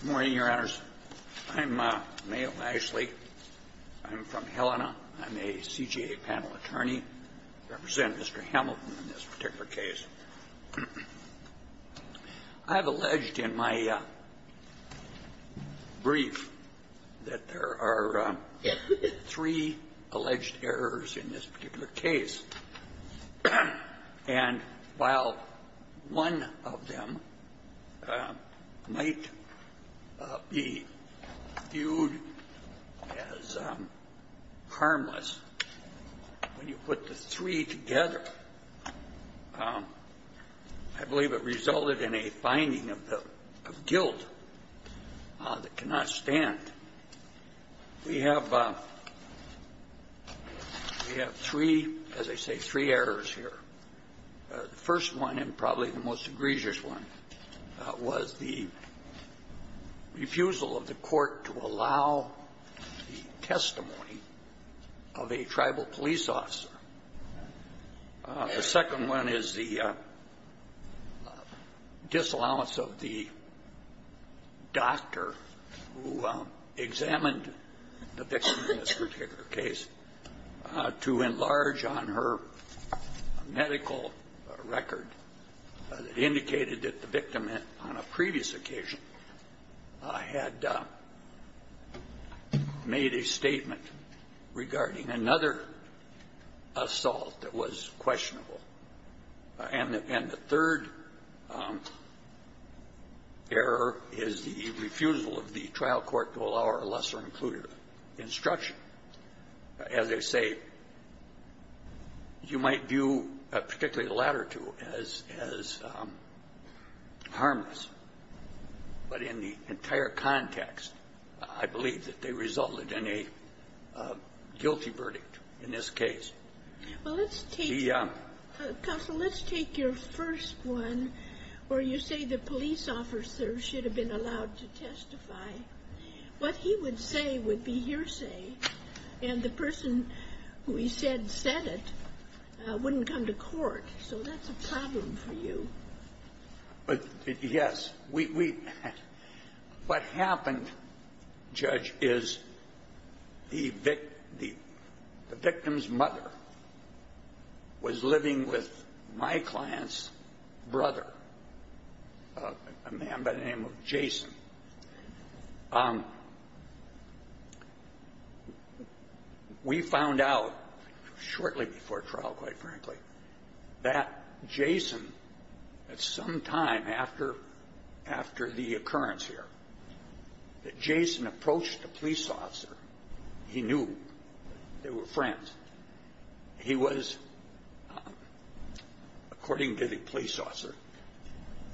Good morning, Your Honors. I'm Mayor Ashley. I'm from Helena. I'm a CJA panel attorney. I represent Mr. Hamilton in this particular case. I have alleged in my brief that there are three alleged errors in this particular case. And while one of them might be viewed as harmless, when you put the three together, I believe it resulted in a finding of guilt that cannot stand. We have three, as I say, three errors here. The first one, and probably the most egregious one, was the refusal of the court to allow the testimony of a tribal police officer. The second one is the disallowance of the doctor who examined the victim in this particular case to enlarge on her medical record that indicated that the victim on a previous occasion had made a statement regarding another assault that was questionable. And the third error is the refusal of the trial court to allow her lesser-included instruction. As I say, you might view particularly the latter two as harmless. But in the entire context, I believe that they resulted in a guilty verdict in this case. Well, let's take the — Counsel, let's take your first one where you say the police officer should have been allowed to testify. What he would say would be hearsay. And the person who he said said it wouldn't come to court. So that's a problem for you. Yes. We — what happened, Judge, is the victim's mother was living with my client's brother, a man by the name of Jason. We found out shortly before trial, quite frankly, that Jason, at some time after the occurrence here, that Jason approached a police officer he knew. They were friends. He was, according to the police officer,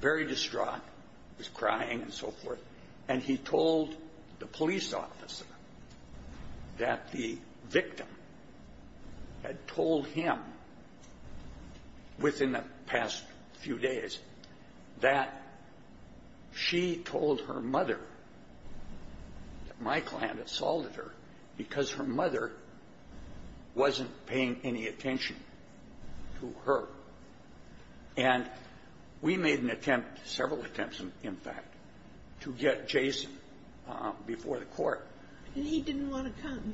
very distraught, was crying and so forth. And he told the police officer that the victim had told him within the past few days that she told her mother that my client assaulted her because her mother wasn't paying any attention to her. And we made an attempt, several attempts, in fact, to get Jason before the court. And he didn't want to come.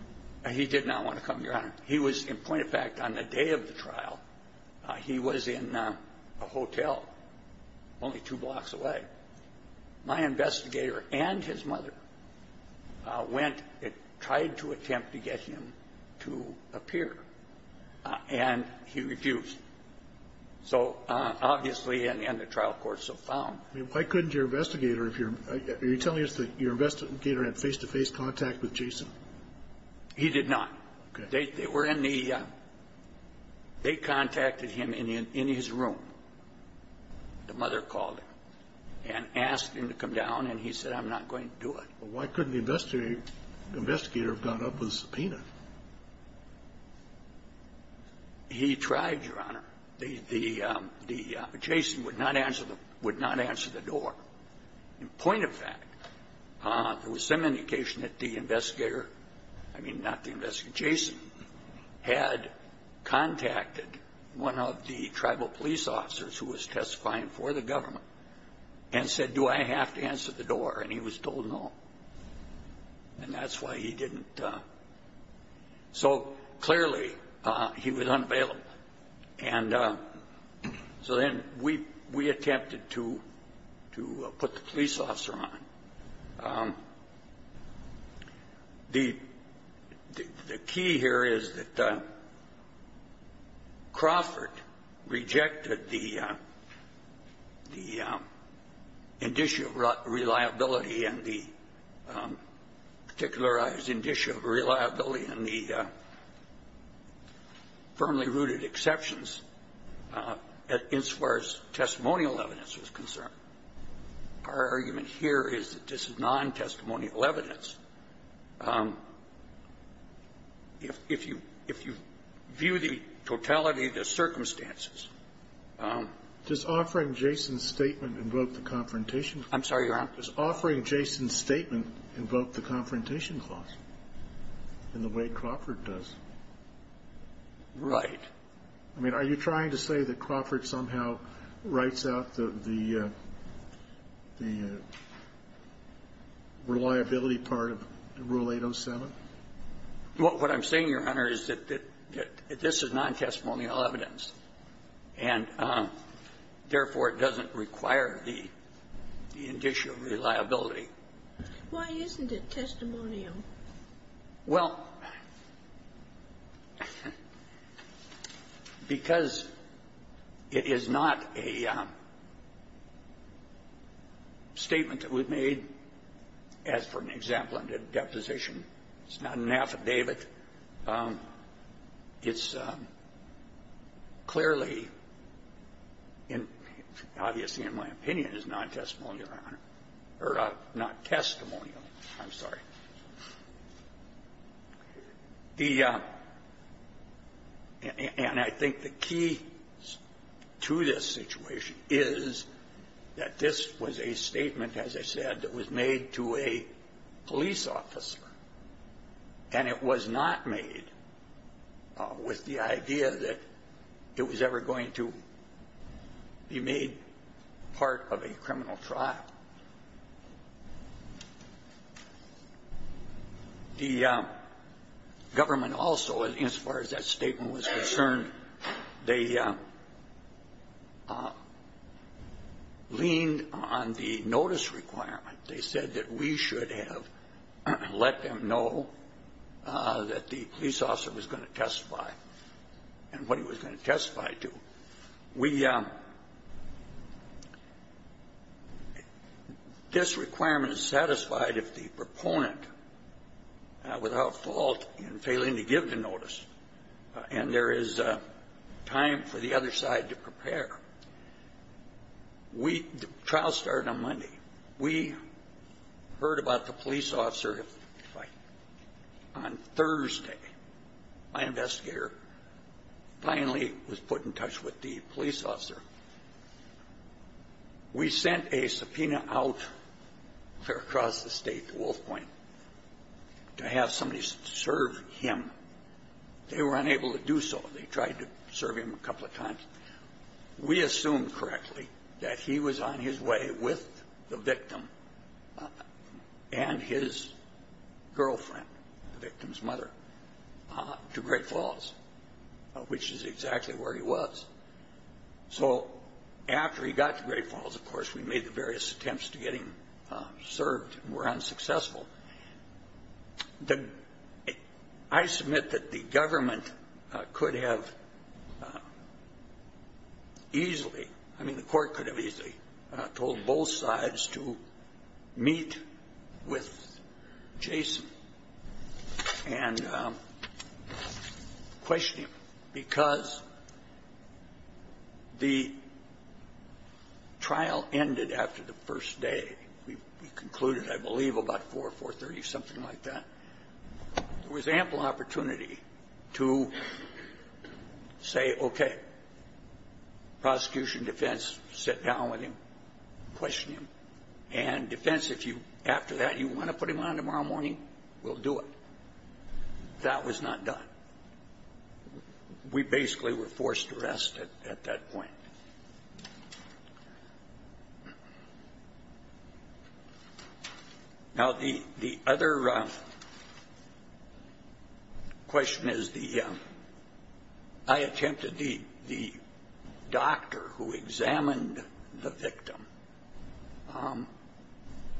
He did not want to come, Your Honor. He was, in point of fact, on the day of the trial, he was in a hotel only two blocks away. My investigator and his mother went and tried to attempt to get him to appear. And he refused. So, obviously, and the trial courts have found — I mean, why couldn't your investigator, if you're — are you telling us that your investigator had face-to-face contact with Jason? He did not. Okay. They were in the — they contacted him in his room, the mother called him, and asked him to come down, and he said, I'm not going to do it. Well, why couldn't the investigator have gone up with a subpoena? He tried, Your Honor. The — the — Jason would not answer the — would not answer the door. In point of fact, there was some indication that the investigator — I mean, not the investigator — Jason had contacted one of the tribal police officers who was testifying for the government, and said, do I have to answer the door? And he was told no. And that's why he didn't — so, clearly, he was unavailable. And so then we — we attempted to — to put the police officer on. The — the key here is that Crawford rejected the — the indicia of reliability and the particularized indicia of reliability and the firmly rooted exceptions as far as testimonial evidence was concerned. Our argument here is that this is non-testimonial evidence. If you — if you view the totality of the circumstances — Does offering Jason's statement invoke the confrontation? I'm sorry, Your Honor. Does offering Jason's statement invoke the confrontation clause in the way Crawford does? Right. I mean, are you trying to say that Crawford somehow writes out the — the reliability part of Rule 807? Well, what I'm saying, Your Honor, is that this is non-testimonial evidence, and, therefore, it doesn't require the indicia of reliability. Why isn't it testimonial? Well, because it is not a statement that we've made, as for an example under deposition. It's not an affidavit. It's clearly in — obviously, in my opinion, it's non-testimonial, Your Honor, or not testimonial. I'm sorry. The — and I think the key to this situation is that this was a statement, as I said, that was made to a police officer, and it was not made with the idea that it was ever going to be made part of a criminal trial. The government also, as far as that statement was concerned, they leaned on the notice requirement. They said that we should have let them know that the police officer was going to testify and what he was going to testify to. We — this requirement is satisfied if the proponent, without fault in failing to give the notice, and there is time for the other side to prepare. We — the trial started on Monday. We heard about the police officer's fight. On Thursday, my investigator finally was put in touch with the police officer. We sent a subpoena out there across the state to Wolf Point to have somebody serve him. They were unable to do so. They tried to serve him a couple of times. We assumed correctly that he was on his way with the victim and his girlfriend, the victim's mother, to Great Falls, which is exactly where he was. So after he got to Great Falls, of course, we made the various attempts to get him served and were unsuccessful. The — I submit that the government could have easily — I mean, the court could have easily told both sides to meet with Jason and question him because the trial ended after the first day. We concluded, I believe, about 4 or 4.30, something like that. There was ample opportunity to say, okay, prosecution, defense, sit down with him, question him, and defense, if you — after that, you want to put him on tomorrow morning, we'll do it. That was not done. We basically were forced to rest at that point. Now, the other question is the — I attempted the doctor who examined the victim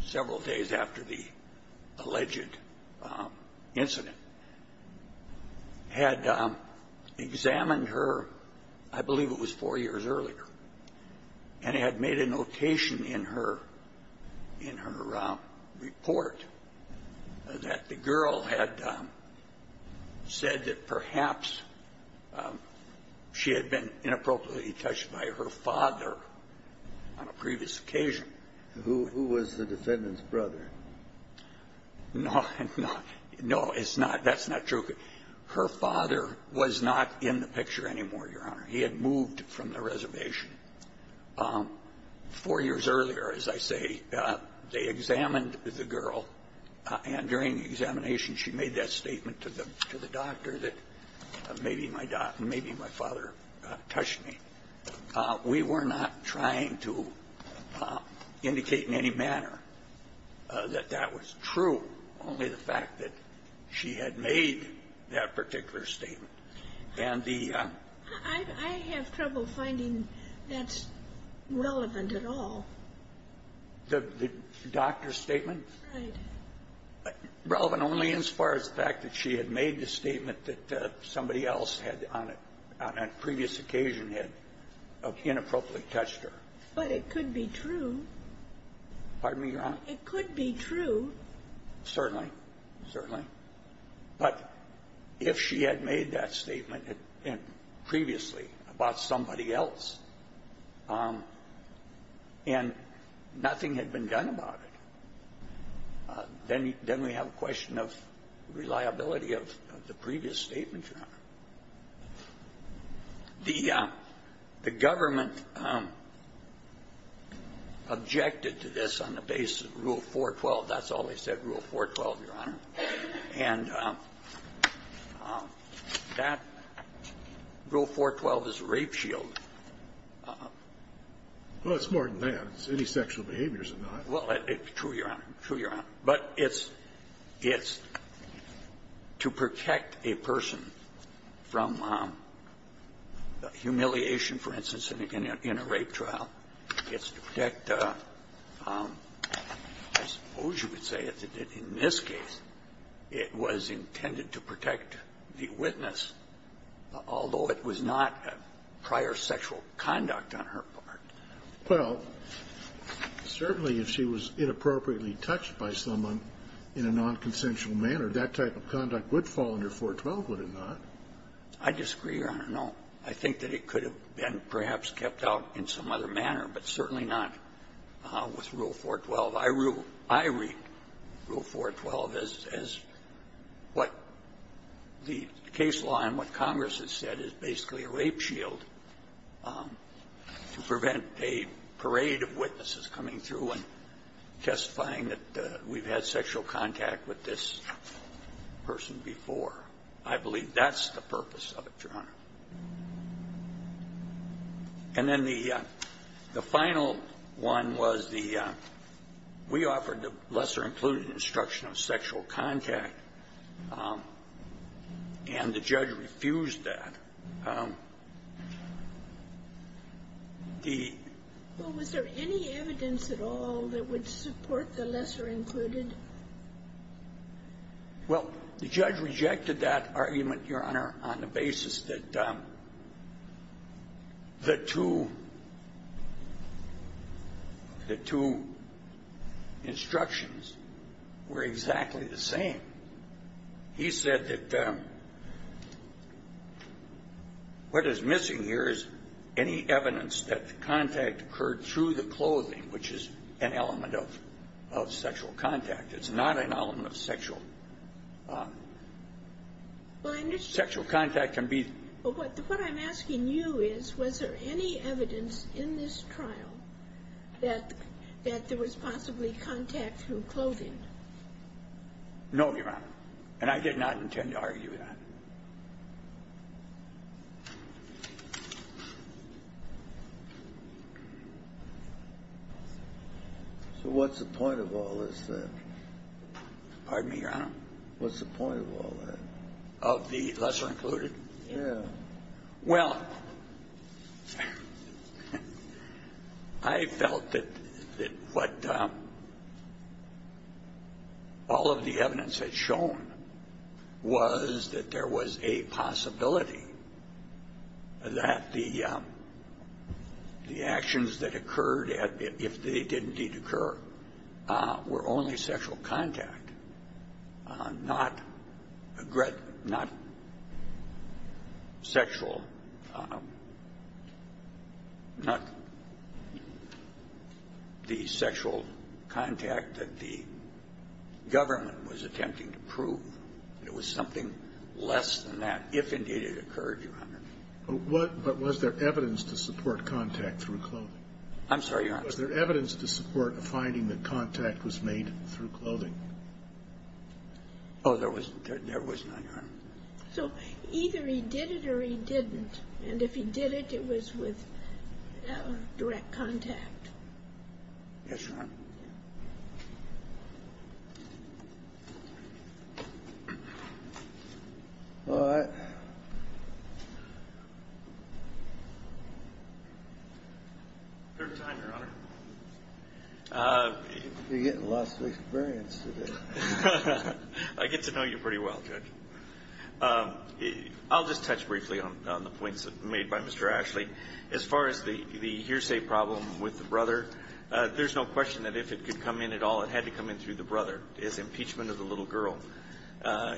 several days after the alleged incident, had examined her, I believe it was four years earlier, and had made a notation in her report that the girl had said that perhaps she had been inappropriately touched by her father on a previous occasion. Who was the defendant's brother? No. No. No, it's not — that's not true. Her father was not in the picture anymore, Your Honor. He had moved from the reservation. Four years earlier, as I say, they examined the girl, and during the examination, she made that statement to the doctor that maybe my — maybe my father touched me. We were not trying to indicate in any manner that that was true, only the fact that she had made that particular statement. And the — I have trouble finding that's relevant at all. The doctor's statement? Right. Relevant only as far as the fact that she had made the statement that somebody else had, on a previous occasion, had inappropriately touched her. But it could be true. Pardon me, Your Honor? It could be true. Certainly. Certainly. But if she had made that statement previously about somebody else, and nothing had been done about it, then we have a question of reliability of the previous statement, Your Honor. The government objected to this on the basis of Rule 412. That's all they said, Rule 412, Your Honor. And that — Rule 412 is a rape shield. Well, it's more than that. It's any sexual behaviors or not. Well, it's true, Your Honor. True, Your Honor. But it's — it's to protect a person from humiliation, for instance, in a rape trial. It's to protect a — I suppose you would say that in this case, it was intended to protect the witness, although it was not prior sexual conduct on her part. Well, certainly if she was inappropriately touched by someone in a nonconsensual manner, that type of conduct would fall under 412, would it not? I disagree, Your Honor. No. I think that it could have been perhaps kept out in some other manner, but certainly not with Rule 412. I rule — I read Rule 412 as — as what the case law and what Congress has said is basically a rape shield to prevent a parade of witnesses coming through and testifying that we've had sexual contact with this person before. I believe that's the purpose of it, Your Honor. And then the — the final one was the — we offered the lesser-included instruction of sexual contact, and the judge refused that. The — Well, was there any evidence at all that would support the lesser-included? Well, the judge rejected that argument, Your Honor, on the basis that the two — the two instructions were exactly the same. He said that what is missing here is any evidence that the contact occurred through the clothing, which is an element of — of sexual contact. It's not an element of sexual — sexual contact can be — But what I'm asking you is, was there any evidence in this trial that — that there was possibly contact through clothing? No, Your Honor. And I did not intend to argue that. So what's the point of all this, then? Pardon me, Your Honor? What's the point of all that? Of the lesser-included? Yeah. Well, I felt that — that what all of the evidence had shown was that there was a possibility that the — the actions that occurred, if they did indeed occur, were only sexual contact, not sexual — not the sexual contact that the government was attempting to prove. It was something less than that, if indeed it occurred, Your Honor. But what — but was there evidence to support contact through clothing? I'm sorry, Your Honor. Was there evidence to support a finding that contact was made through clothing? Oh, there was not, Your Honor. So either he did it or he didn't. And if he did it, it was with direct contact. Yes, Your Honor. All right. Third time, Your Honor. You're getting lots of experience today. I get to know you pretty well, Judge. I'll just touch briefly on the points made by Mr. Ashley. As far as the hearsay problem with the brother, there's no question that if it could come in at all, it had to come in through the brother. It's impeachment of the little girl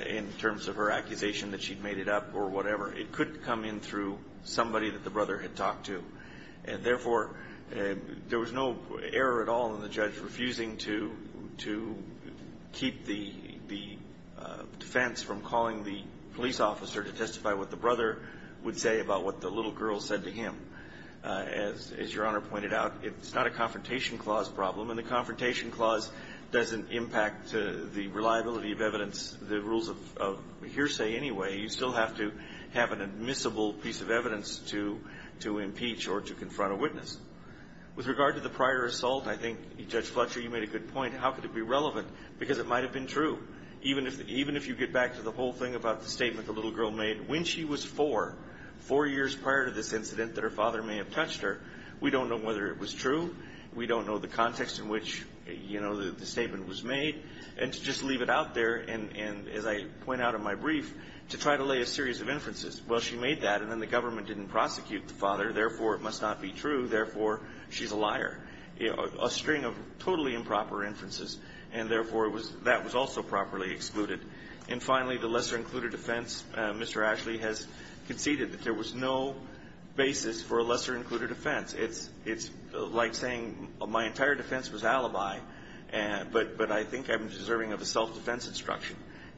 in terms of her accusation that she'd made it up or whatever. It could come in through somebody that the brother had talked to. And therefore, there was no error at all in the judge refusing to keep the defense from calling the police officer to testify what the brother would say about what the little girl said to him. As Your Honor pointed out, it's not a confrontation clause problem, and the confrontation clause doesn't impact the reliability of evidence, the rules of hearsay anyway. You still have to have an admissible piece of evidence to impeach or to confront a witness. With regard to the prior assault, I think, Judge Fletcher, you made a good point. How could it be relevant? Because it might have been true. Even if you get back to the whole thing about the statement the little girl made when she was four, four years prior to this incident that her father may have touched her, we don't know whether it was true. We don't know the context in which, you know, the statement was made. And to just leave it out there, and as I point out in my brief, to try to lay a series of inferences. Well, she made that, and then the government didn't prosecute the father. Therefore, it must not be true. Therefore, she's a liar. A string of totally improper inferences, and therefore, that was also properly excluded. And finally, the lesser-included offense. Mr. Ashley has conceded that there was no basis for a lesser-included offense. It's like saying my entire defense was alibi, but I think I'm deserving of a self-defense instruction.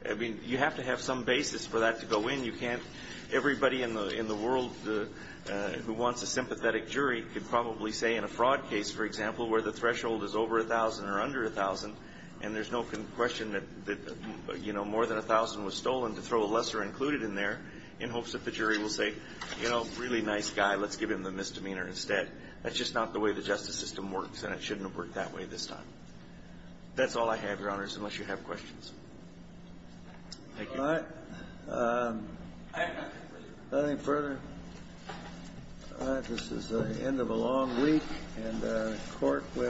I mean, you have to have some basis for that to go in. You can't – everybody in the world who wants a sympathetic jury could probably say in a fraud case, for example, where the threshold is over 1,000 or under 1,000, and there's no question that, you know, more than 1,000 was stolen, to throw a lesser- included in there in hopes that the jury will say, you know, really nice guy, let's give him the misdemeanor instead. That's just not the way the justice system works, and it shouldn't have worked that way this time. That's all I have, Your Honors, unless you have questions. Thank you. All right. Nothing further. All right. This is the end of a long week, and the Court will adjourn.